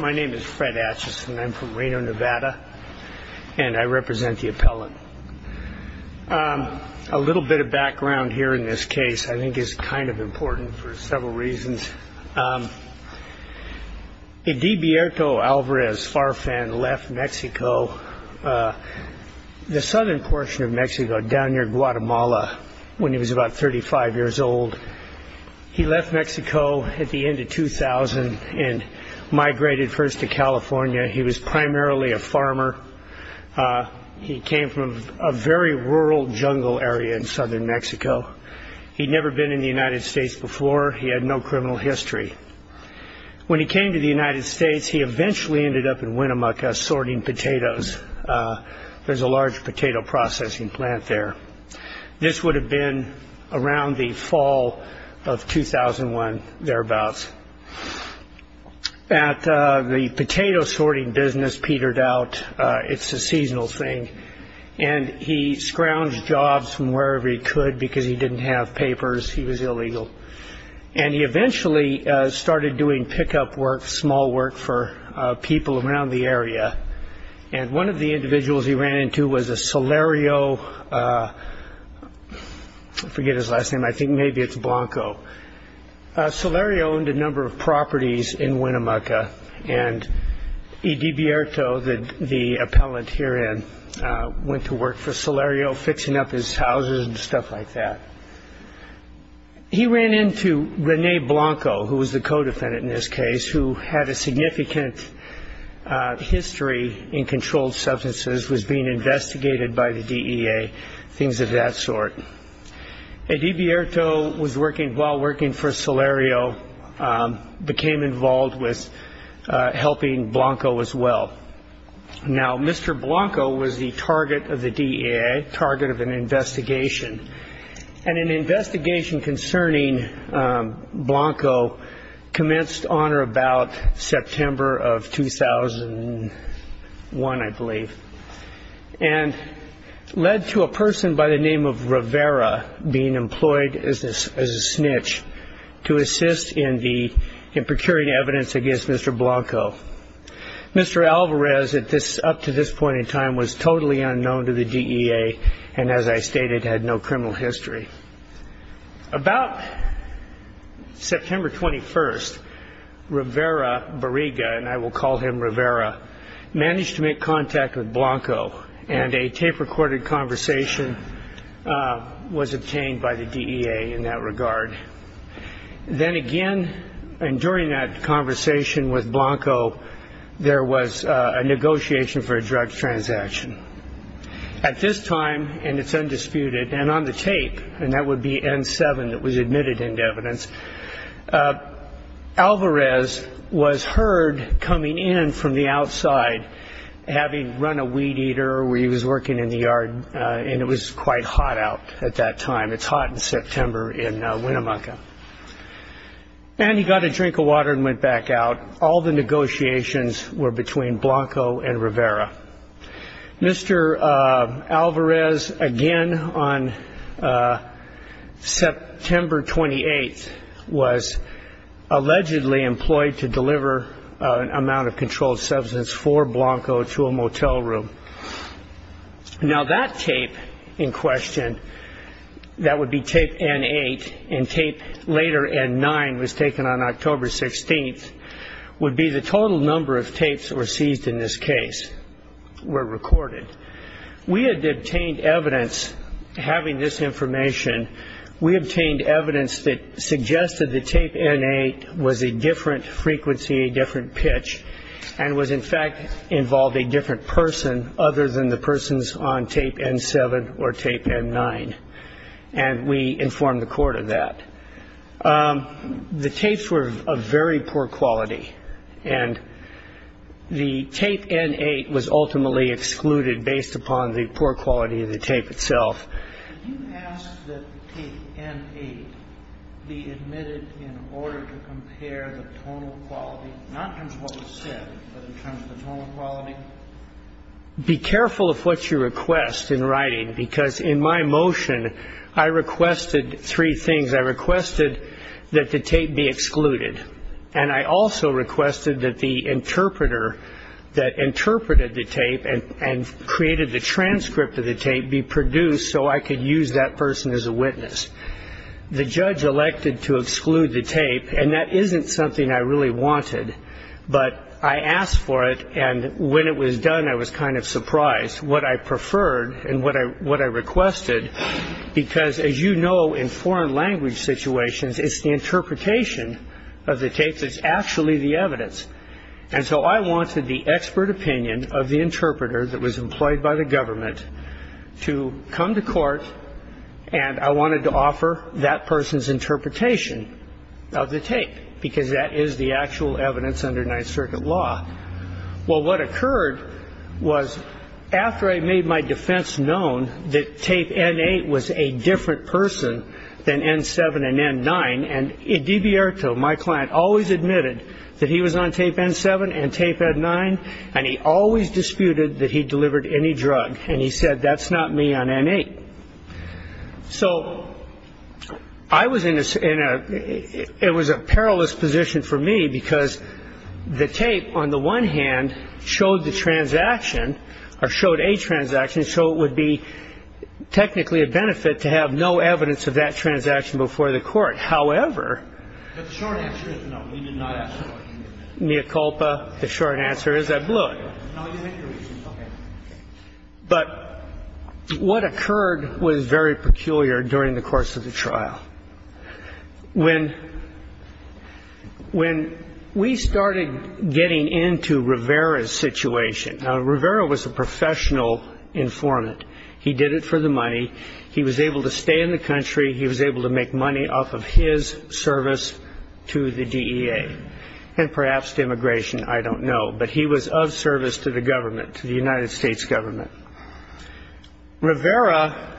My name is Fred Acheson. I'm from Reno, Nevada, and I represent the appellant. A little bit of background here in this case I think is kind of important for several reasons. Edibierto Alvarez-Farfan left Mexico, the southern portion of Mexico, down near Guatemala when he was about 35 years old. He left Mexico at the end of 2000 and migrated first to California. He was primarily a farmer. He came from a very rural jungle area in southern Mexico. He'd never been in the United States before. He had no criminal history. When he came to the United States, he eventually ended up in Winnemucca sorting potatoes. There's a large potato processing plant there. This would have been around the fall of 2001, thereabouts. The potato sorting business petered out. It's a seasonal thing. He scrounged jobs from wherever he could because he didn't have papers. He was illegal. He eventually started doing pickup work, small work, for people around the area. One of the individuals he ran into was a Solerio. I forget his last name. I think maybe it's Blanco. Solerio owned a number of properties in Winnemucca. Edibierto, the appellant herein, went to work for Solerio, fixing up his houses and stuff like that. He ran into Rene Blanco, who was the co-defendant in this case, who had a significant history in controlled substances, was being investigated by the DEA, things of that sort. Edibierto, while working for Solerio, became involved with helping Blanco as well. Now, Mr. Blanco was the target of the DEA, target of an investigation. And an investigation concerning Blanco commenced on or about September of 2001, I believe, and led to a person by the name of Rivera being employed as a snitch to assist in procuring evidence against Mr. Blanco. Mr. Alvarez, up to this point in time, was totally unknown to the DEA and, as I stated, had no criminal history. About September 21st, Rivera, Barriga, and I will call him Rivera, managed to make contact with Blanco, and a tape-recorded conversation was obtained by the DEA in that regard. Then again, and during that conversation with Blanco, there was a negotiation for a drug transaction. At this time, and it's undisputed, and on the tape, and that would be N7 that was admitted into evidence, Alvarez was heard coming in from the outside, having run a weed eater where he was working in the yard, and it was quite hot out at that time. It's hot in September in Winnemucca. And he got a drink of water and went back out. All the negotiations were between Blanco and Rivera. Mr. Alvarez, again on September 28th, was allegedly employed to deliver an amount of controlled substance for Blanco to a motel room. Now that tape in question, that would be tape N8, and tape later N9 was taken on October 16th, would be the total number of tapes that were seized in this case were recorded. We had obtained evidence having this information, we obtained evidence that suggested that tape N8 was a different frequency, a different pitch, and was in fact involved a different person other than the persons on tape N7 or tape N9, and we informed the court of that. The tapes were of very poor quality, and the tape N8 was ultimately excluded based upon the poor quality of the tape itself. Could you ask that tape N8 be admitted in order to compare the tonal quality, not in terms of what was said, but in terms of the tonal quality? Be careful of what you request in writing, because in my motion I requested three things. I requested that the tape be excluded, and created the transcript of the tape be produced so I could use that person as a witness. The judge elected to exclude the tape, and that isn't something I really wanted, but I asked for it, and when it was done I was kind of surprised what I preferred and what I requested, because as you know in foreign language situations, it's the interpretation of the tape that's actually the evidence. And so I wanted the expert opinion of the interpreter that was employed by the government to come to court, and I wanted to offer that person's interpretation of the tape, because that is the actual evidence under Ninth Circuit law. Well, what occurred was after I made my defense known that tape N8 was a different person than N7 and N9, and DiBierto, my client, always admitted that he was on tape N7 and tape N9, and he always disputed that he delivered any drug, and he said that's not me on N8. So I was in a ñ it was a perilous position for me, because the tape on the one hand showed the transaction, or showed a transaction, so it would be technically a benefit to have no evidence of that transaction before the court. However ñ But the short answer is no, you did not ask for it. Mea culpa. The short answer is I blew it. No, you had your reasons. Okay. But what occurred was very peculiar during the course of the trial. When we started getting into Rivera's situation ñ now, Rivera was a professional informant. He did it for the money. He was able to stay in the country. He was able to make money off of his service to the DEA, and perhaps to immigration. I don't know. But he was of service to the government, to the United States government. Rivera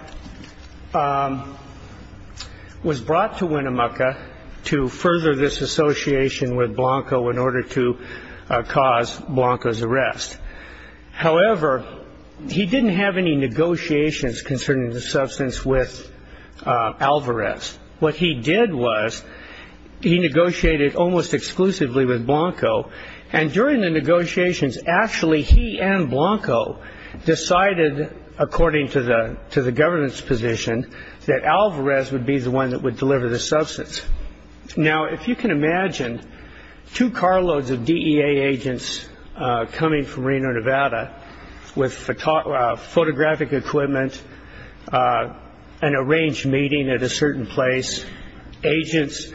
was brought to Winnemucca to further this association with Blanco in order to cause Blanco's arrest. However, he didn't have any negotiations concerning the substance with Alvarez. What he did was he negotiated almost exclusively with Blanco, and during the negotiations actually he and Blanco decided, according to the government's position, that Alvarez would be the one that would deliver the substance. Now, if you can imagine two carloads of DEA agents coming from Reno, Nevada, with photographic equipment, an arranged meeting at a certain place, agents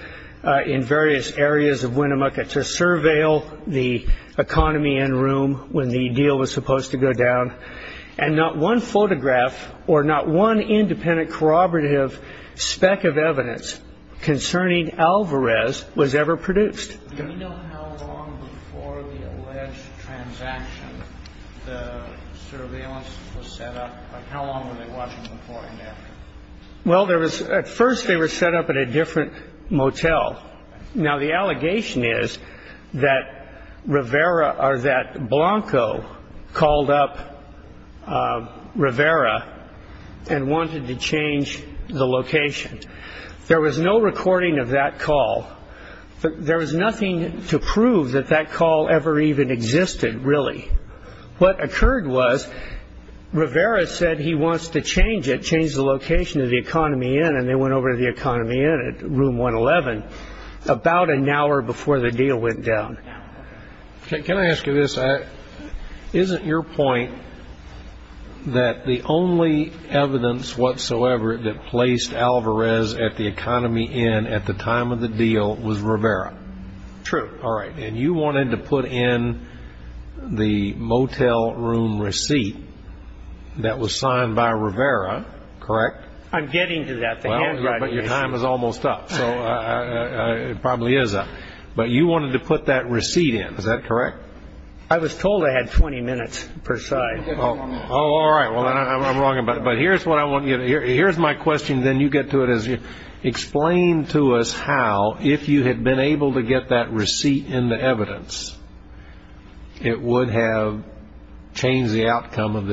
in various areas of Winnemucca to surveil the economy and room when the deal was supposed to go down, and not one photograph or not one independent corroborative speck of evidence concerning Alvarez was ever produced. Well, at first they were set up at a different motel. Now, the allegation is that Blanco called up Rivera and wanted to change the location. There was no recording of that call. There was nothing to prove that that call ever even existed, really. What occurred was Rivera said he wants to change it, change the location of the economy inn, and they went over to the economy inn at room 111 about an hour before the deal went down. Can I ask you this? Isn't your point that the only evidence whatsoever that placed Alvarez at the economy inn at the time of the deal was Rivera? True. All right. And you wanted to put in the motel room receipt that was signed by Rivera, correct? I'm getting to that. But your time is almost up, so it probably is up. But you wanted to put that receipt in, is that correct? I was told I had 20 minutes per side. All right. Well, then I'm wrong about it. But here's what I want to get at. Here's my question, then you get to it, is explain to us how, if you had been able to get that receipt in the evidence, it would have changed the outcome of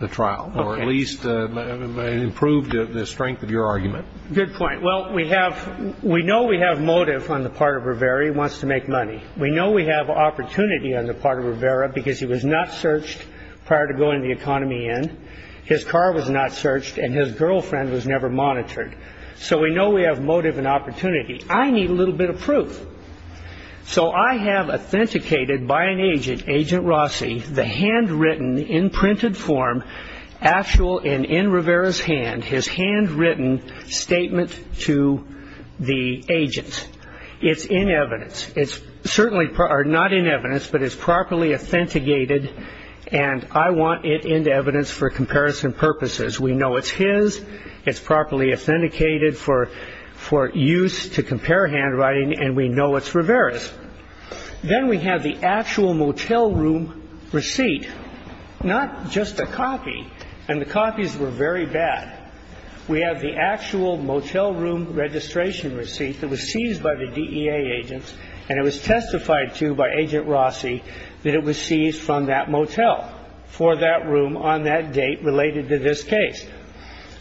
the trial or at least improved the strength of your argument. Good point. Well, we know we have motive on the part of Rivera. He wants to make money. We know we have opportunity on the part of Rivera because he was not searched prior to going to the economy inn. His car was not searched, and his girlfriend was never monitored. So we know we have motive and opportunity. I need a little bit of proof. So I have authenticated by an agent, Agent Rossi, the handwritten in printed form, actual and in Rivera's hand, his handwritten statement to the agent. It's in evidence. It's certainly not in evidence, but it's properly authenticated, and I want it into evidence for comparison purposes. We know it's his. It's properly authenticated for use to compare handwriting, and we know it's Rivera's. Then we have the actual motel room receipt, not just a copy, and the copies were very bad. We have the actual motel room registration receipt that was seized by the DEA agents, and it was testified to by Agent Rossi that it was seized from that motel for that room on that date related to this case.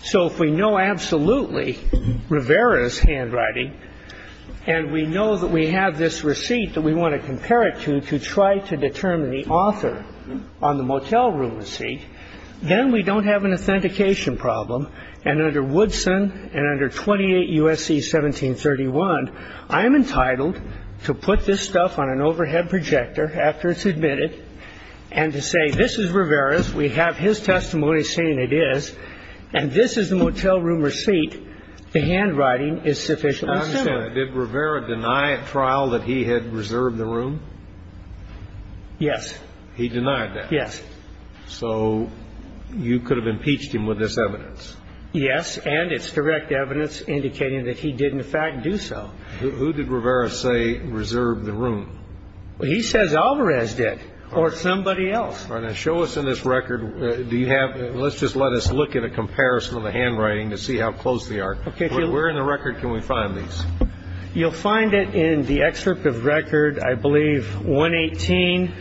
So if we know absolutely Rivera's handwriting, and we know that we have this receipt that we want to compare it to to try to determine the author on the motel room receipt, then we don't have an authentication problem. And under Woodson and under 28 U.S.C. 1731, I am entitled to put this stuff on an overhead projector after it's admitted and to say this is Rivera's. We have his testimony saying it is, and this is the motel room receipt. The handwriting is sufficiently similar. I understand. Did Rivera deny at trial that he had reserved the room? Yes. He denied that? Yes. So you could have impeached him with this evidence? Yes, and it's direct evidence indicating that he did, in fact, do so. Who did Rivera say reserved the room? He says Alvarez did or somebody else. All right. Now show us in this record, let's just let us look at a comparison of the handwriting to see how close they are. Where in the record can we find these? You'll find it in the excerpt of record, I believe, 118.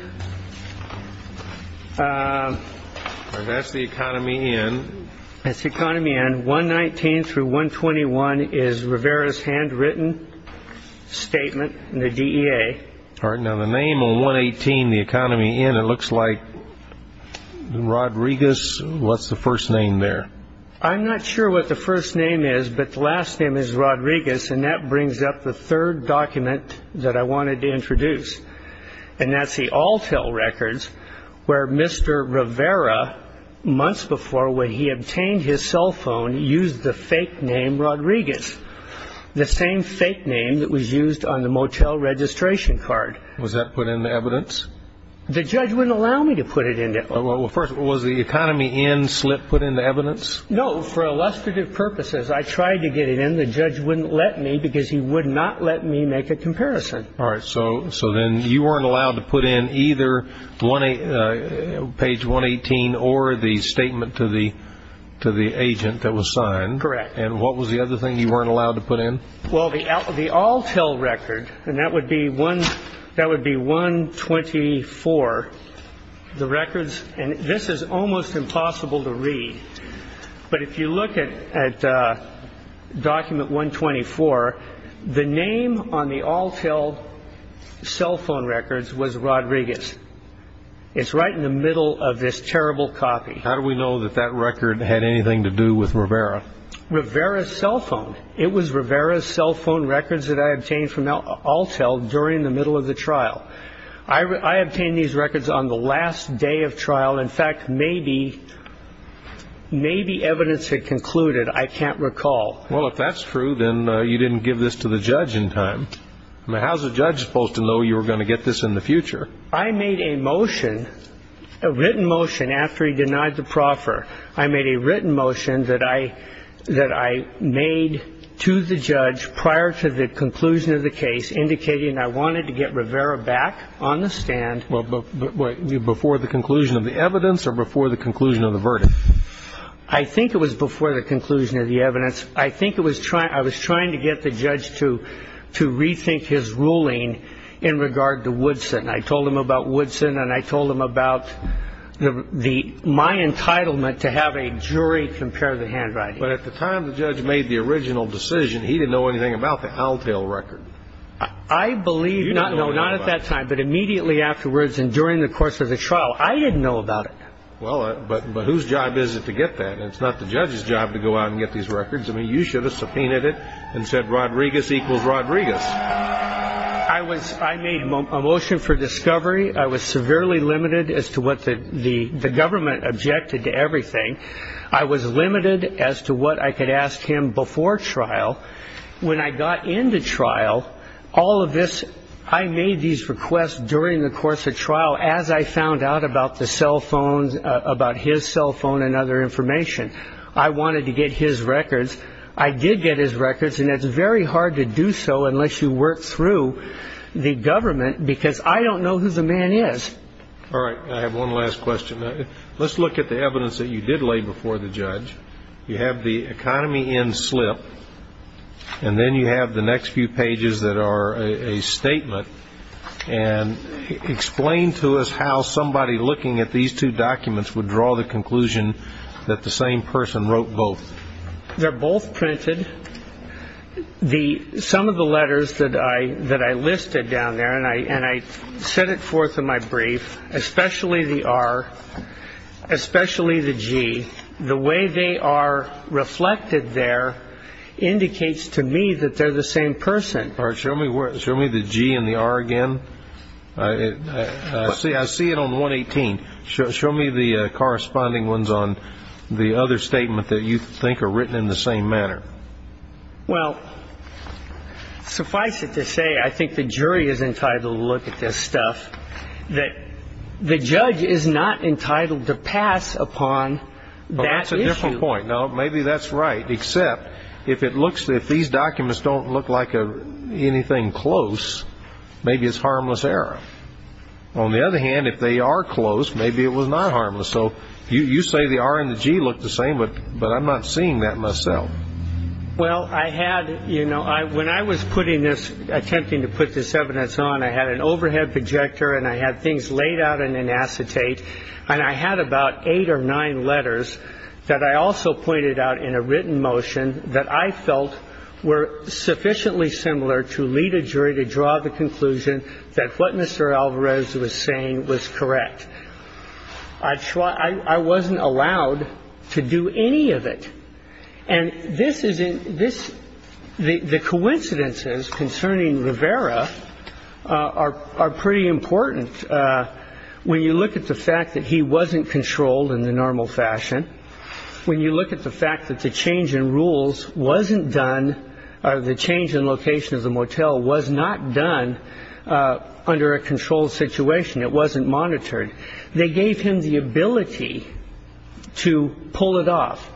That's the economy in. That's the economy in. 119 through 121 is Rivera's handwritten statement in the DEA. All right. Now the name on 118, the economy in, it looks like Rodriguez. What's the first name there? I'm not sure what the first name is, but the last name is Rodriguez, and that brings up the third document that I wanted to introduce, and that's the Altel records where Mr. Rivera, months before when he obtained his cell phone, used the fake name Rodriguez, the same fake name that was used on the motel registration card. Was that put in the evidence? The judge wouldn't allow me to put it in there. Well, first, was the economy in slip put in the evidence? No. For illustrative purposes, I tried to get it in. The judge wouldn't let me because he would not let me make a comparison. All right. So then you weren't allowed to put in either page 118 or the statement to the agent that was signed. Correct. And what was the other thing you weren't allowed to put in? Well, the Altel record, and that would be 124, the records, and this is almost impossible to read, but if you look at document 124, the name on the Altel cell phone records was Rodriguez. It's right in the middle of this terrible copy. How do we know that that record had anything to do with Rivera? Rivera's cell phone. It was Rivera's cell phone records that I obtained from Altel during the middle of the trial. I obtained these records on the last day of trial. In fact, maybe evidence had concluded. I can't recall. Well, if that's true, then you didn't give this to the judge in time. How is a judge supposed to know you were going to get this in the future? I made a motion, a written motion, after he denied the proffer. I made a written motion that I made to the judge prior to the conclusion of the case indicating I wanted to get Rivera back on the stand. Before the conclusion of the evidence or before the conclusion of the verdict? I think it was before the conclusion of the evidence. I think I was trying to get the judge to rethink his ruling in regard to Woodson. I told him about Woodson, and I told him about my entitlement to have a jury compare the handwriting. But at the time the judge made the original decision, he didn't know anything about the Altel record. I believe, no, not at that time, but immediately afterwards and during the course of the trial, I didn't know about it. Well, but whose job is it to get that? It's not the judge's job to go out and get these records. I mean, you should have subpoenaed it and said Rodriguez equals Rodriguez. I made a motion for discovery. I was severely limited as to what the government objected to everything. I was limited as to what I could ask him before trial. When I got into trial, all of this, I made these requests during the course of trial as I found out about the cell phones, about his cell phone and other information. I wanted to get his records. I did get his records, and it's very hard to do so unless you work through the government, because I don't know who the man is. All right. I have one last question. Let's look at the evidence that you did lay before the judge. You have the economy in slip, and then you have the next few pages that are a statement. And explain to us how somebody looking at these two documents would draw the conclusion that the same person wrote both. They're both printed. Some of the letters that I listed down there, and I set it forth in my brief, especially the R, especially the G. The way they are reflected there indicates to me that they're the same person. All right. Show me the G and the R again. I see it on 118. Show me the corresponding ones on the other statement that you think are written in the same manner. Well, suffice it to say, I think the jury is entitled to look at this stuff, that the judge is not entitled to pass upon that issue. Well, that's a different point. Now, maybe that's right, except if these documents don't look like anything close, maybe it's harmless error. On the other hand, if they are close, maybe it was not harmless. So you say the R and the G look the same, but I'm not seeing that myself. Well, I had, you know, when I was putting this, attempting to put this evidence on, I had an overhead projector and I had things laid out in an acetate, and I had about eight or nine letters that I also pointed out in a written motion that I felt were sufficiently similar to lead a jury to draw the conclusion that what Mr. Alvarez was saying was correct. I wasn't allowed to do any of it. And this is in this. The coincidences concerning Rivera are pretty important. When you look at the fact that he wasn't controlled in the normal fashion, when you look at the fact that the change in rules wasn't done, the change in location of the motel was not done under a controlled situation, it wasn't monitored. They gave him the ability to pull it off.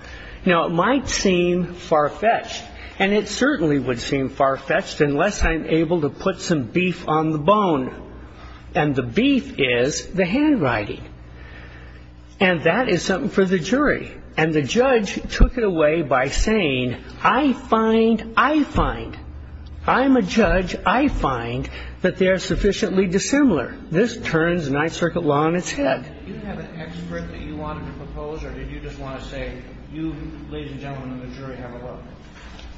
Now, it might seem far-fetched, and it certainly would seem far-fetched, unless I'm able to put some beef on the bone. And the beef is the handwriting. And that is something for the jury. And the judge took it away by saying, I find, I find. I'm a judge. I find that they're sufficiently dissimilar. This turns Ninth Circuit law on its head. You didn't have an expert that you wanted to propose, or did you just want to say, you, ladies and gentlemen of the jury, have a look?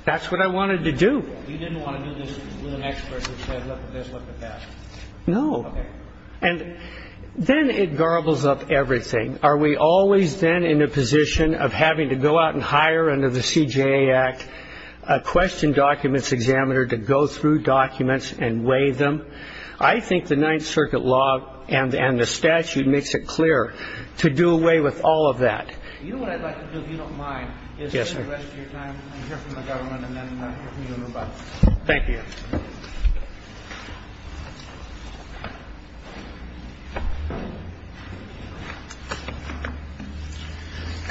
That's what I wanted to do. You didn't want to do this with an expert who said, look at this, look at that? No. Okay. And then it garbles up everything. Are we always then in a position of having to go out and hire under the CJA Act a question documents examiner to go through documents and weigh them? I think the Ninth Circuit law and the statute makes it clear to do away with all of that. Do you know what I'd like to do, if you don't mind? Yes, sir. Is to spend the rest of your time and hear from the government and then hear from you and move on. Thank you.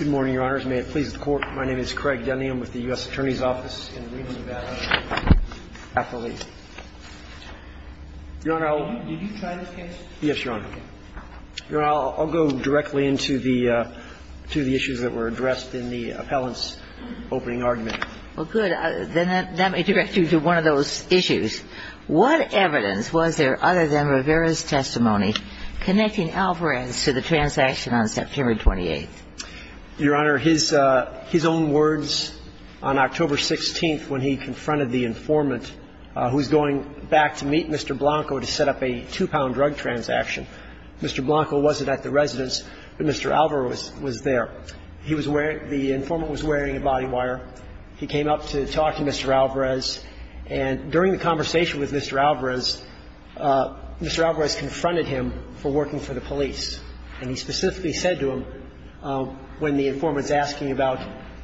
May it please the Court. My name is Craig Dunne. I'm with the U.S. Attorney's Office in Reno, Nevada. Your Honor, I'll go directly into the issues that were addressed in the appellant's opening argument. Well, good. Then that may direct you to one of those issues. What evidence was there other than Rivera's testimony connecting Alvarez to the transaction on September 28th? Your Honor, his own words on October 16th when he confronted the informant, who was going back to meet Mr. Blanco to set up a two-pound drug transaction. Mr. Blanco wasn't at the residence, but Mr. Alvarez was there. He was wearing the informant was wearing a body wire. He came up to talk to Mr. Alvarez. And during the conversation with Mr. Alvarez, Mr. Alvarez confronted him for working for the police. And he specifically said to him, when the informant's asking about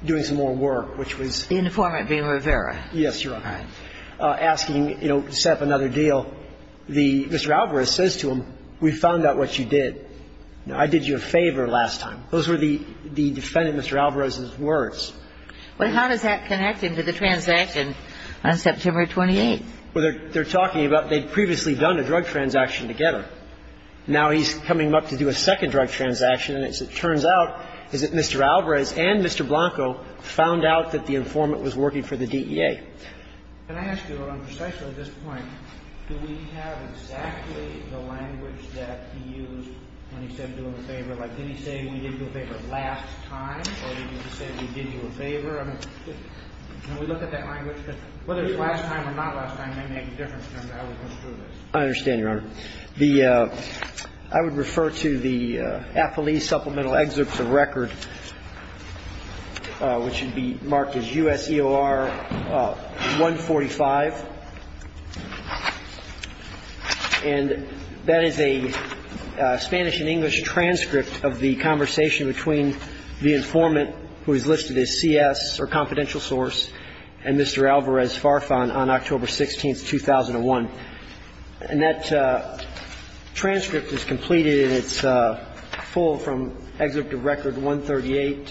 doing some more work, which was the informant being Rivera. Yes, Your Honor. Asking, you know, to set up another deal. Mr. Alvarez says to him, we found out what you did. I did you a favor last time. Those were the defendant, Mr. Alvarez's, words. Well, how does that connect him to the transaction on September 28th? Well, they're talking about they'd previously done a drug transaction together. Now he's coming up to do a second drug transaction. And as it turns out, is that Mr. Alvarez and Mr. Blanco found out that the informant was working for the DEA. Can I ask you, on precisely this point, do we have exactly the language that he used when he said do him a favor? Like, did he say we did you a favor last time, or did he say we did you a favor? I mean, can we look at that language? Because whether it's last time or not last time may make a difference in how we go through I understand, Your Honor. The – I would refer to the affilee supplemental excerpts of record, which would be marked as U.S. EOR 145. And that is a Spanish and English transcript of the conversation between the informant who is listed as CS, or confidential source, and Mr. Alvarez Farfan on October 16th, 2001. And that transcript is completed, and it's full from excerpt of record 138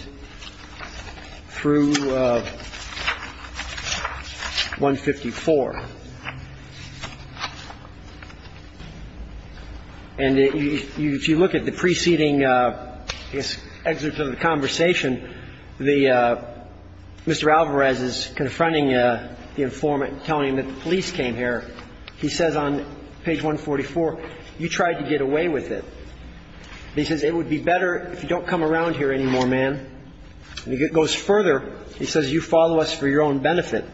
through 154. And if you look at the preceding excerpt of the conversation, the – Mr. Alvarez is confronting the informant, telling him that the police came here. He says on page 144, you tried to get away with it. He says, it would be better if you don't come around here anymore, man. And he goes further. He says, you follow us for your own benefit.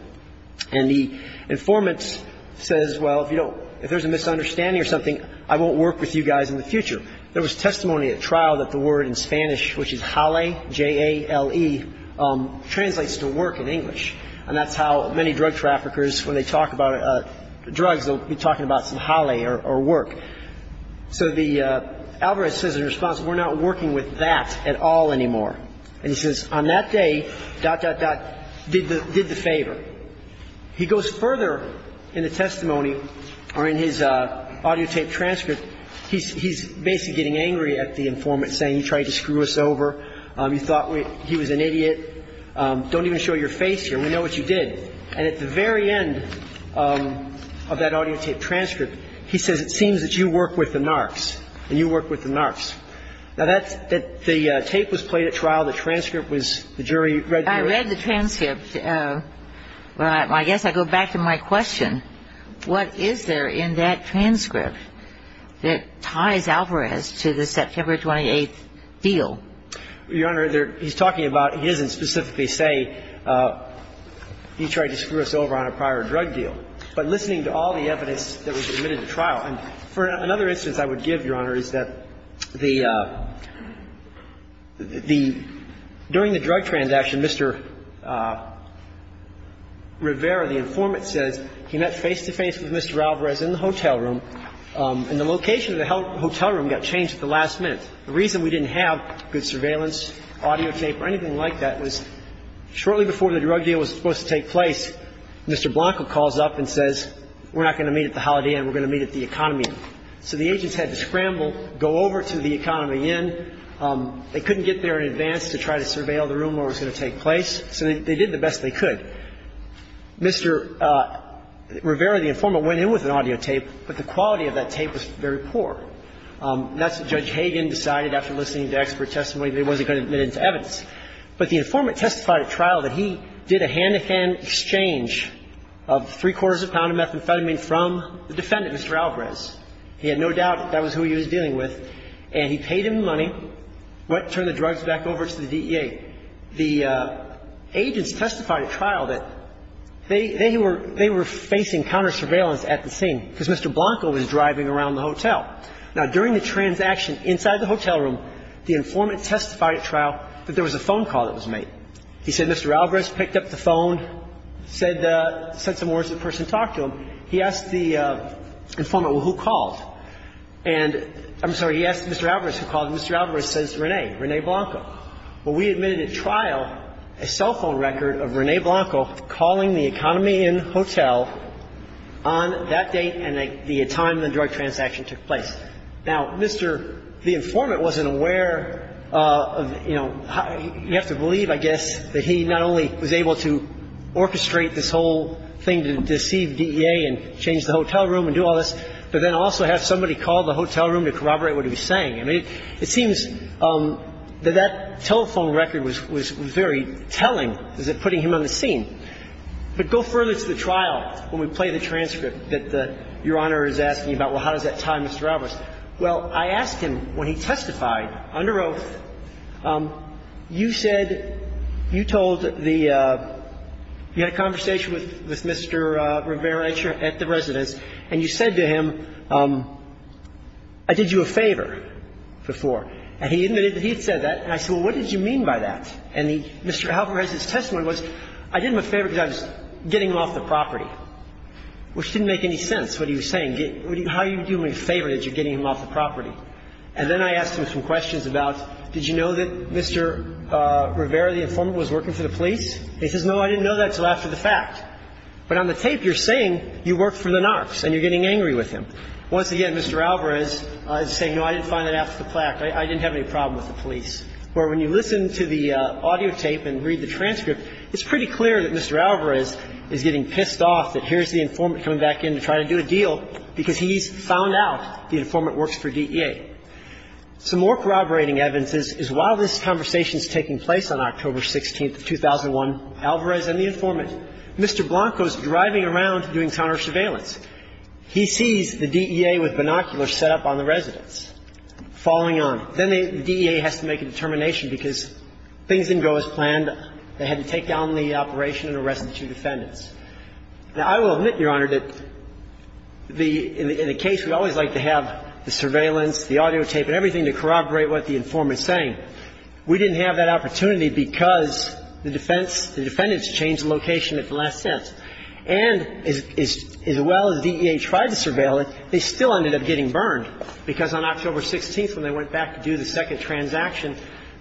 And the informant says, well, if you don't – if there's a misunderstanding or something, I won't work with you guys in the future. There was testimony at trial that the word in Spanish, which is jale, J-A-L-E, translates to work in English. And that's how many drug traffickers, when they talk about drugs, they'll be talking about some jale or work. So the – Alvarez says in response, we're not working with that at all anymore. And he says, on that day, dot, dot, dot, did the favor. He goes further in the testimony or in his audio tape transcript. He's basically getting angry at the informant, saying you tried to screw us over. You thought we – he was an idiot. Don't even show your face here. We know what you did. And at the very end of that audio tape transcript, he says, it seems that you work with the narcs, and you work with the narcs. Now, that's – the tape was played at trial. The transcript was – the jury read the transcript. I read the transcript. Well, I guess I go back to my question. What is there in that transcript that ties Alvarez to the September 28th deal? Your Honor, he's talking about – he doesn't specifically say you tried to screw us over on a prior drug deal. But listening to all the evidence that was admitted to trial – and for another instance I would give, Your Honor, is that the – the – during the drug transaction, Mr. Rivera, the informant, says he met face-to-face with Mr. Alvarez in the hotel room, and the location of the hotel room got changed at the last minute. The reason we didn't have good surveillance, audio tape, or anything like that was shortly before the drug deal was supposed to take place, Mr. Blanco calls up and says, we're not going to meet at the Holiday Inn, we're going to meet at the Economy Inn. So the agents had to scramble, go over to the Economy Inn. They couldn't get there in advance to try to surveil the room where it was going to take place. So they did the best they could. Mr. Rivera, the informant, went in with an audio tape, but the quality of that tape was very poor. That's what Judge Hagan decided after listening to expert testimony that he wasn't going to admit it to evidence. But the informant testified at trial that he did a hand-to-hand exchange of three quarters of a pound of methamphetamine from the defendant, Mr. Alvarez. He had no doubt that that was who he was dealing with. And he paid him the money, went and turned the drugs back over to the DEA. The agents testified at trial that they – they were – they were facing counter-surveillance at the scene because Mr. Blanco was driving around the hotel. Now, during the transaction inside the hotel room, the informant testified at trial that there was a phone call that was made. He said Mr. Alvarez picked up the phone, said the – said some words to the person who talked to him. He asked the informant, well, who called? And – I'm sorry. He asked Mr. Alvarez who called. Mr. Alvarez says Rene, Rene Blanco. Well, we admitted at trial a cell phone record of Rene Blanco calling the Economy Hotel on that date and the time the drug transaction took place. Now, Mr. – the informant wasn't aware of, you know – you have to believe, I guess, that he not only was able to orchestrate this whole thing to deceive DEA and change the hotel room and do all this, but then also have somebody call the hotel room to corroborate what he was saying. I mean, it seems that that telephone record was – was very telling as to putting him on the scene. But go further to the trial when we play the transcript that Your Honor is asking about, well, how does that tie Mr. Alvarez? Well, I asked him when he testified under oath, you said – you told the – you had a conversation with Mr. Rivera at the residence, and you said to him, I did you a favor before. And he admitted that he had said that. And I said, well, what did you mean by that? And Mr. Alvarez's testimony was, I did him a favor because I was getting him off the property, which didn't make any sense, what he was saying. How do you do me a favor that you're getting him off the property? And then I asked him some questions about, did you know that Mr. Rivera, the informant, was working for the police? And he says, no, I didn't know that until after the fact. But on the tape, you're saying you worked for the narcs and you're getting angry with him. Once again, Mr. Alvarez is saying, no, I didn't find that after the fact. I didn't have any problem with the police. Now, this is a case where when you listen to the audio tape and read the transcript, it's pretty clear that Mr. Alvarez is getting pissed off that here's the informant coming back in to try to do a deal because he's found out the informant works for DEA. Some more corroborating evidence is while this conversation is taking place on October 16th of 2001, Alvarez and the informant, Mr. Blanco is driving around doing counter-surveillance. He sees the DEA with binoculars set up on the residence, following on. Then the DEA has to make a determination because things didn't go as planned. They had to take down the operation and arrest the two defendants. Now, I will admit, Your Honor, that the – in a case, we always like to have the surveillance, the audio tape and everything to corroborate what the informant is saying. We didn't have that opportunity because the defense – the defendants changed location at the last sentence. And as well as DEA tried to surveil it, they still ended up getting burned because on October 16th, when they went back to do the second transaction,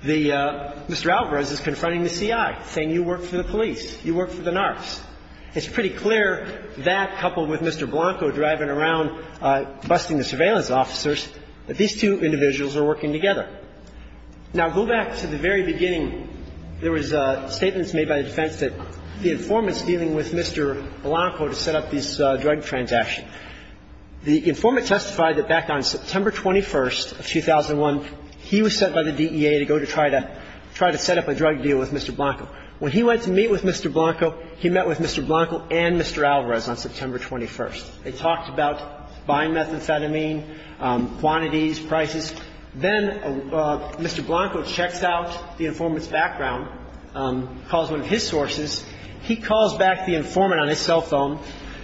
the – Mr. Alvarez is confronting the CI, saying you work for the police. You work for the narcs. It's pretty clear that, coupled with Mr. Blanco driving around busting the surveillance officers, that these two individuals are working together. Now, go back to the very beginning. There was statements made by the defense that the informant's dealing with Mr. Blanco to set up this drug transaction. The informant testified that back on September 21st of 2001, he was sent by the DEA to go to try to – try to set up a drug deal with Mr. Blanco. When he went to meet with Mr. Blanco, he met with Mr. Blanco and Mr. Alvarez on September 21st. They talked about buying methamphetamine, quantities, prices. Then Mr. Blanco checks out the informant's background, calls one of his sources. He calls back the informant on his cell phone,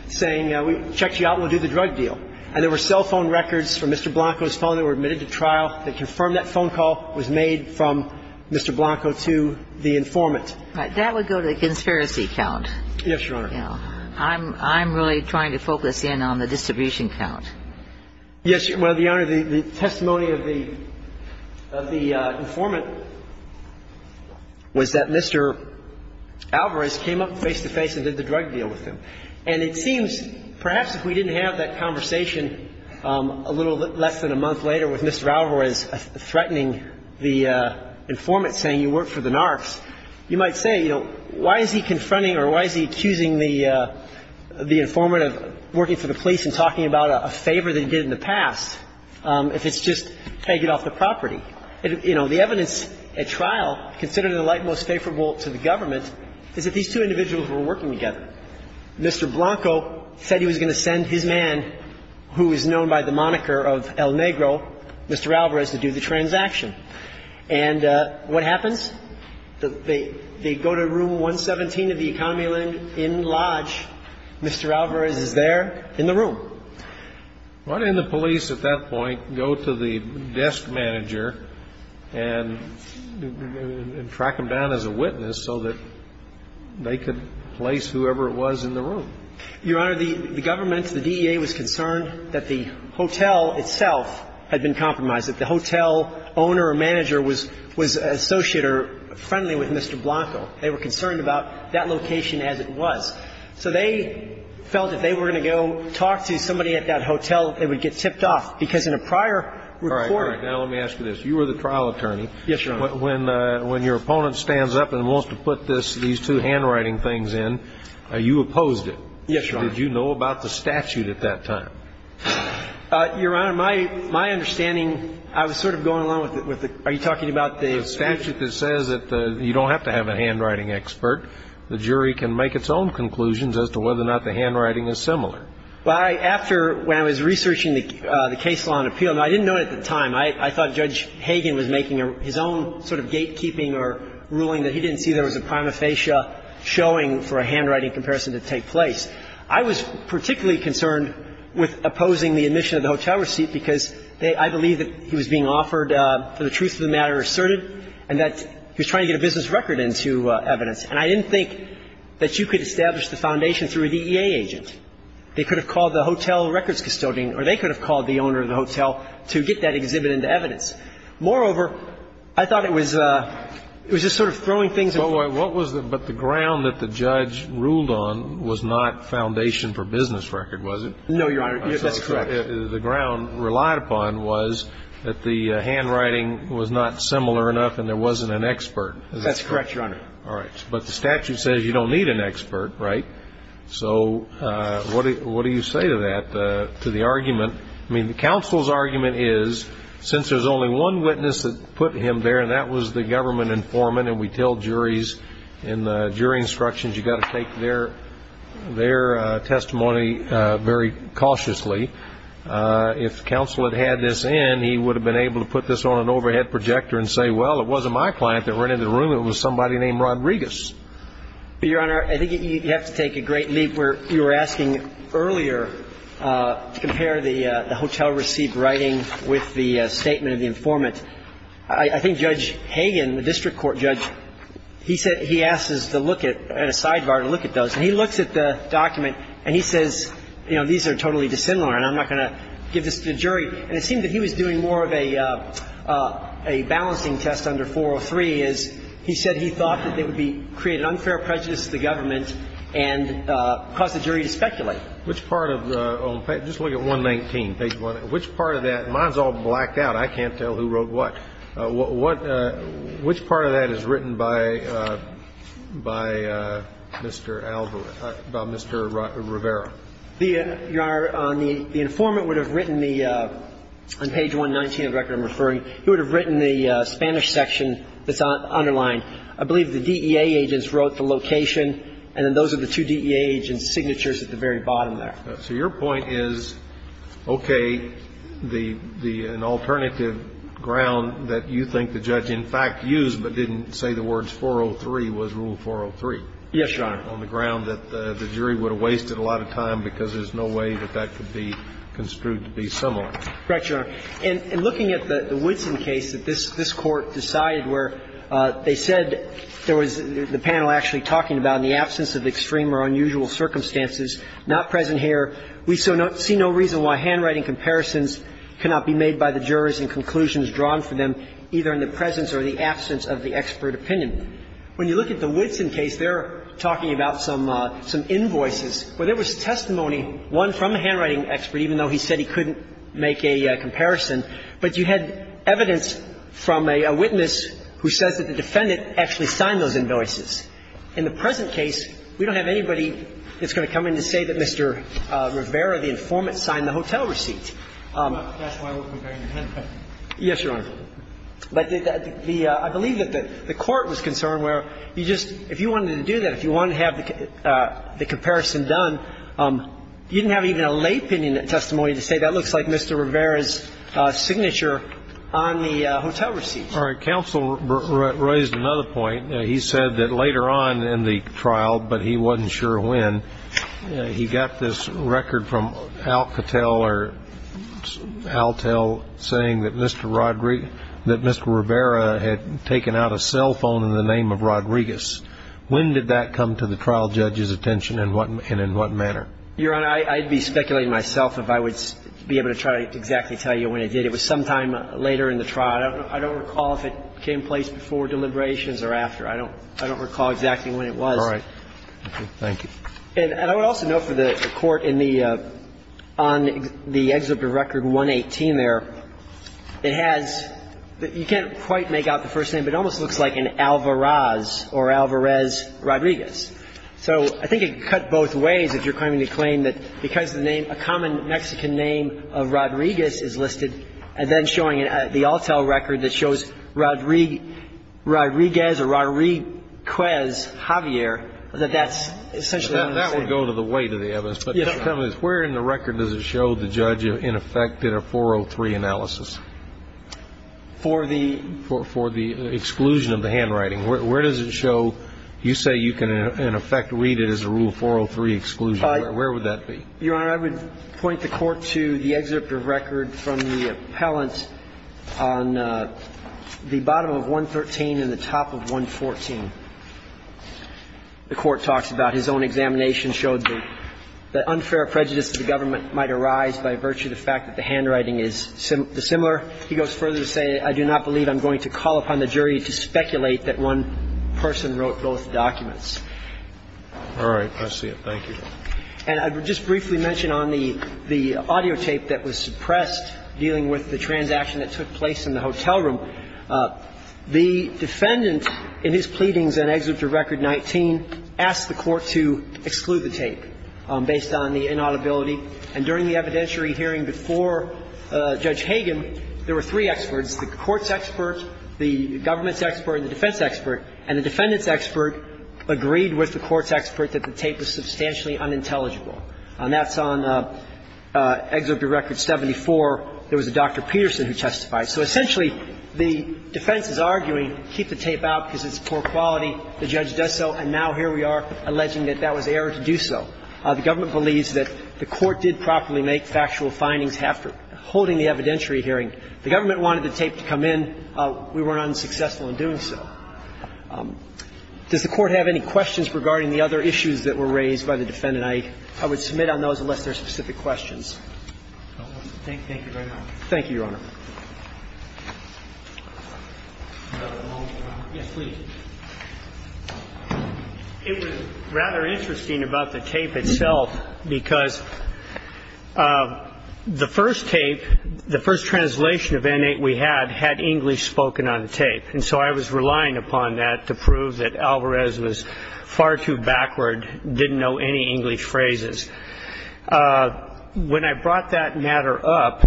saying we checked you out and we'll do the drug deal. And there were cell phone records from Mr. Blanco's phone that were admitted to trial that confirmed that phone call was made from Mr. Blanco to the informant. Right. That would go to the conspiracy count. Yes, Your Honor. Yeah. I'm really trying to focus in on the distribution count. Yes. Well, Your Honor, the testimony of the – of the informant was that Mr. Alvarez came up face-to-face and did the drug deal with him. And it seems perhaps if we didn't have that conversation a little less than a month later with Mr. Alvarez threatening the informant, saying you work for the narcs, you might say, you know, why is he confronting or why is he accusing the informant of working for the police and talking about a favor that he did in the past if it's just take it off the property? You know, the evidence at trial, considered in the light most favorable to the government, is that these two individuals were working together. Mr. Blanco said he was going to send his man, who is known by the moniker of El Negro, Mr. Alvarez, to do the transaction. And what happens? They go to room 117 of the economy inn lodge. Mr. Alvarez is there in the room. Why didn't the police at that point go to the desk manager and track him down as a witness so that they could place whoever it was in the room? Your Honor, the government, the DEA, was concerned that the hotel itself had been compromised, that the hotel owner or manager was an associate or friendly with Mr. Blanco. They were concerned about that location as it was. So they felt if they were going to go talk to somebody at that hotel, they would get tipped off, because in a prior report. All right. You were the trial attorney. Yes, Your Honor. When your opponent stands up and wants to put these two handwriting things in, you opposed it. Yes, Your Honor. Did you know about the statute at that time? Your Honor, my understanding, I was sort of going along with it. Are you talking about the statute that says that you don't have to have a handwriting expert? The jury can make its own conclusions as to whether or not the handwriting is similar. Well, after, when I was researching the case law and appeal, I didn't know it at the time. I thought Judge Hagen was making his own sort of gatekeeping or ruling that he didn't see there was a prima facie showing for a handwriting comparison to take place. I was particularly concerned with opposing the admission of the hotel receipt, because I believe that he was being offered for the truth of the matter asserted and that he was trying to get a business record into evidence. And I didn't think that you could establish the foundation through a DEA agent. They could have called the hotel records custodian or they could have called the owner of the hotel to get that exhibit into evidence. Moreover, I thought it was, it was just sort of throwing things in the water. What was the, but the ground that the judge ruled on was not foundation for business record, was it? No, Your Honor. That's correct. The ground relied upon was that the handwriting was not similar enough and there wasn't an expert. That's correct, Your Honor. All right. But the statute says you don't need an expert, right? So what do you say to that, to the argument? I mean, the counsel's argument is since there's only one witness that put him there and that was the government informant and we tell juries in the jury instructions you've got to take their testimony very cautiously. If counsel had had this in, he would have been able to put this on an overhead projector and say, well, it wasn't my client that rented the room. It was somebody named Rodriguez. But, Your Honor, I think you have to take a great leap where you were asking earlier to compare the hotel receipt writing with the statement of the informant. I think Judge Hagan, the district court judge, he said he asked us to look at a sidebar to look at those. And he looks at the document and he says, you know, these are totally dissimilar and I'm not going to give this to the jury. And it seemed that he was doing more of a balancing test under 403, as he said he thought that they would create an unfair prejudice to the government and cause the statements do exist. They do exist. Please. Roberts. Yes. Which part of the own page, just look at 119, page 1, which part of that, mine is all blacked out. I can't tell who wrote what. Which part of that is written by Mr. Rivera? Your Honor, the informant would have written the, on page 119 of the record I'm referring, he would have written the Spanish section that's underlined. I believe the DEA agents wrote the location, and then those are the two DEA agents' signatures at the very bottom there. So your point is, okay, the, an alternative ground that you think the judge in fact used but didn't say the words 403 was Rule 403. Yes, Your Honor. On the ground that the jury would have wasted a lot of time because there's no way that that could be construed to be similar. Correct, Your Honor. And looking at the Woodson case that this Court decided where they said there was the panel actually talking about in the absence of extreme or unusual circumstances, not present here, we see no reason why handwriting comparisons cannot be made by the jurors and conclusions drawn for them either in the presence or the absence of the expert opinion. When you look at the Woodson case, they're talking about some invoices where there was testimony, one from a handwriting expert, even though he said he couldn't make a comparison. But you had evidence from a witness who says that the defendant actually signed those invoices. In the present case, we don't have anybody that's going to come in to say that Mr. Rivera, the informant, signed the hotel receipt. That's why we're comparing the handwriting. Yes, Your Honor. But I believe that the Court was concerned where you just, if you wanted to do that, if you wanted to have the comparison done, you didn't have even a lay opinion testimony to say that looks like Mr. Rivera's signature on the hotel receipt. All right. Counsel raised another point. He said that later on in the trial, but he wasn't sure when, he got this record from Alcatel or Altel saying that Mr. Rodriguez, that Mr. Rivera had taken out a cell phone in the name of Rodriguez. When did that come to the trial judge's attention and in what manner? Your Honor, I'd be speculating myself if I would be able to try to exactly tell you when it did. It was sometime later in the trial. I don't recall if it came in place before deliberations or after. I don't recall exactly when it was. All right. Thank you. And I would also note for the Court in the, on the excerpt of Record 118 there, it has, you can't quite make out the first name, but it almost looks like an Alvarez or Alvarez Rodriguez. So I think it cut both ways if you're claiming to claim that because the name, a common Mexican name of Rodriguez is listed, and then showing the Altel record that shows Rodriguez or Rodriguez Javier, that that's essentially what I'm saying. That would go to the weight of the evidence. But Mr. Cummings, where in the record does it show the judge in effect did a 403 analysis? For the? For the exclusion of the handwriting. Where does it show, you say you can in effect read it as a Rule 403 exclusion. Where would that be? Your Honor, I would point the Court to the excerpt of Record from the appellant on the bottom of 113 and the top of 114. The Court talks about his own examination showed that unfair prejudice to the government might arise by virtue of the fact that the handwriting is dissimilar. He goes further to say, I do not believe I'm going to call upon the jury to speculate that one person wrote both documents. All right. I see it. Thank you. And I would just briefly mention on the audio tape that was suppressed dealing with the transaction that took place in the hotel room. The defendant in his pleadings in Excerpt of Record 19 asked the Court to exclude the tape based on the inaudibility. And during the evidentiary hearing before Judge Hagan, there were three experts, the court's expert, the government's expert, and the defense expert. And the defendant's expert agreed with the court's expert that the tape was substantially unintelligible. And that's on Excerpt of Record 74. There was a Dr. Peterson who testified. So essentially, the defense is arguing keep the tape out because it's poor quality. The judge does so. And now here we are alleging that that was error to do so. The government believes that the Court did properly make factual findings after holding the evidentiary hearing. The government wanted the tape to come in. We were unsuccessful in doing so. Does the Court have any questions regarding the other issues that were raised by the defendant? I would submit on those unless there are specific questions. Thank you very much. Thank you, Your Honor. Yes, please. It was rather interesting about the tape itself because the first tape, the first translation of N-8 we had had English spoken on the tape. And so I was relying upon that to prove that Alvarez was far too backward, didn't know any English phrases. When I brought that matter up,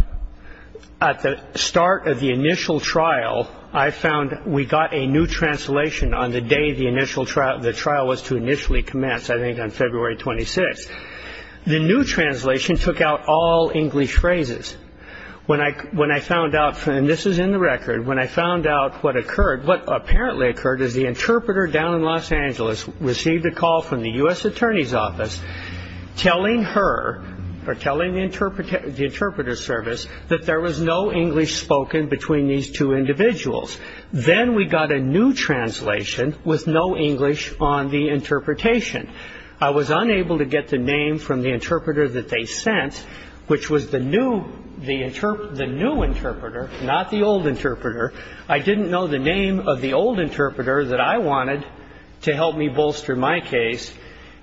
at the start of the initial trial, I found we got a new translation on the day the initial trial, the trial was to initially commence, I think on February 26th. The new translation took out all English phrases. When I found out, and this is in the record, when I found out what occurred, what apparently occurred is the interpreter down in Los Angeles received a call from the U.S. Attorney's Office telling her or telling the interpreter service that there was no English spoken between these two individuals. Then we got a new translation with no English on the interpretation. I was unable to get the name from the interpreter that they sent, which was the new interpreter, not the old interpreter. I didn't know the name of the old interpreter that I wanted to help me bolster my case.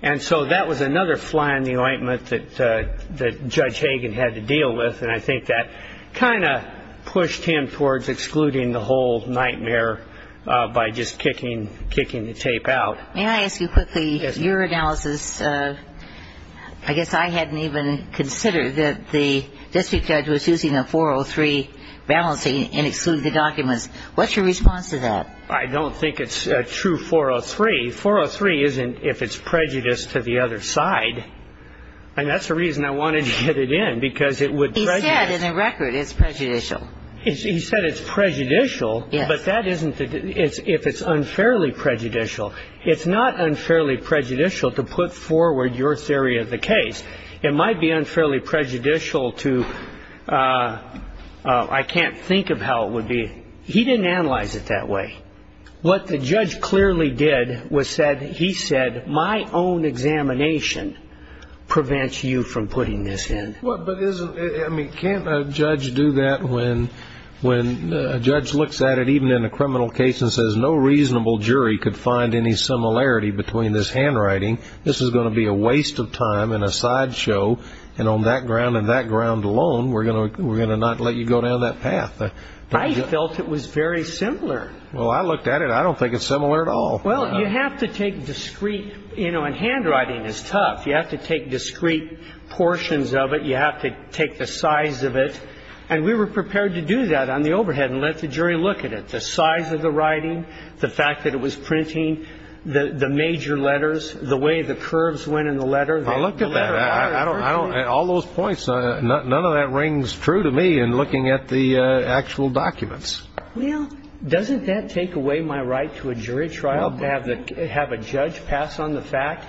And so that was another fly in the ointment that Judge Hagen had to deal with, and I think that kind of pushed him towards excluding the whole nightmare by just kicking the tape out. May I ask you quickly, your analysis, I guess I hadn't even considered that the district judge was using a 403 balancing and excluding the documents. What's your response to that? I don't think it's a true 403. 403 isn't if it's prejudice to the other side, and that's the reason I wanted to get it in, because it would prejudice. He said in the record it's prejudicial. He said it's prejudicial, but that isn't if it's unfairly prejudicial. It's not unfairly prejudicial to put forward your theory of the case. It might be unfairly prejudicial to, I can't think of how it would be. He didn't analyze it that way. What the judge clearly did was said, he said, my own examination prevents you from putting this in. But isn't, I mean, can't a judge do that when a judge looks at it even in a criminal case and says no reasonable jury could find any similarity between this handwriting? This is going to be a waste of time and a sideshow, and on that ground and that ground alone, we're going to not let you go down that path. I felt it was very similar. Well, I looked at it. I don't think it's similar at all. Well, you have to take discrete, you know, and handwriting is tough. You have to take discrete portions of it. You have to take the size of it. And we were prepared to do that on the overhead and let the jury look at it, the size of the writing, the fact that it was printing, the major letters, the way the curves went in the letter. Well, look at that. All those points, none of that rings true to me in looking at the actual documents. Well, doesn't that take away my right to a jury trial, to have a judge pass on the fact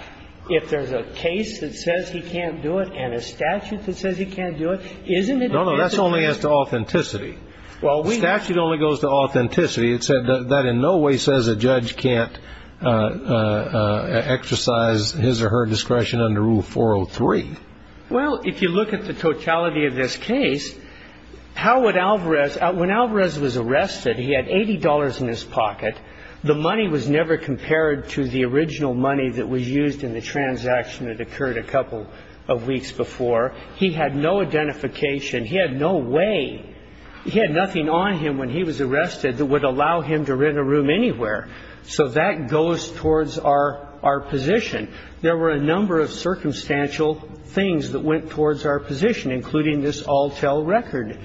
if there's a case that says he can't do it and a statute that says he can't do it, isn't it? No, no. That's only as to authenticity. Well, we. Statute only goes to authenticity. It said that in no way says a judge can't exercise his or her discretion under Rule 403. Well, if you look at the totality of this case, how would Alvarez, when Alvarez was arrested, he had $80 in his pocket. The money was never compared to the original money that was used in the transaction that occurred a couple of weeks before. He had no identification. He had no way. He had nothing on him when he was arrested that would allow him to rent a room anywhere. So that goes towards our position. There were a number of circumstantial things that went towards our position, including this all-tell record.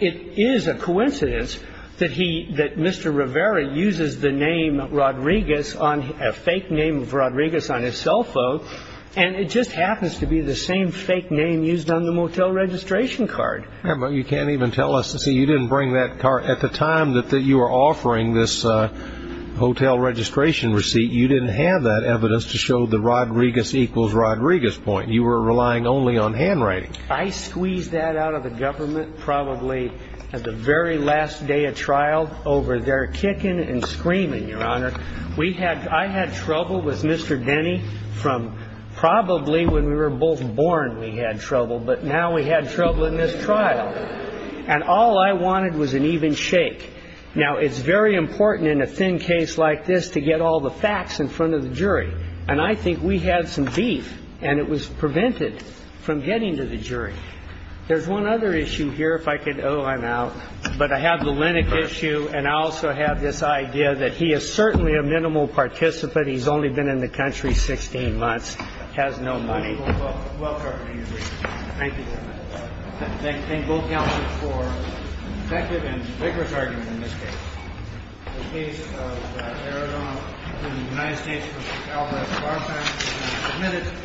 It is a coincidence that he, that Mr. Rivera uses the name Rodriguez on a fake name for Rodriguez on his cell phone, and it just happens to be the same fake name used on the motel registration card. Yeah, but you can't even tell us. See, you didn't bring that card at the time that you were offering this hotel registration receipt. You didn't have that evidence to show the Rodriguez equals Rodriguez point. You were relying only on handwriting. I squeezed that out of the government probably at the very last day of trial over there kicking and screaming, Your Honor. I had trouble with Mr. Denny from probably when we were both born we had trouble, but now we had trouble in this trial. And all I wanted was an even shake. Now, it's very important in a thin case like this to get all the facts in front of the jury. And I think we had some beef, and it was prevented from getting to the jury. There's one other issue here, if I could. Oh, I'm out. But I have the Linnick issue, and I also have this idea that he is certainly a minimal participant. He's only been in the country 16 months, has no money. Well covered, I agree. Thank you, Your Honor. Thank both counsels for effective and vigorous argument in this case. The case of Arizona and the United States v. Alvarez-Farfax has been submitted.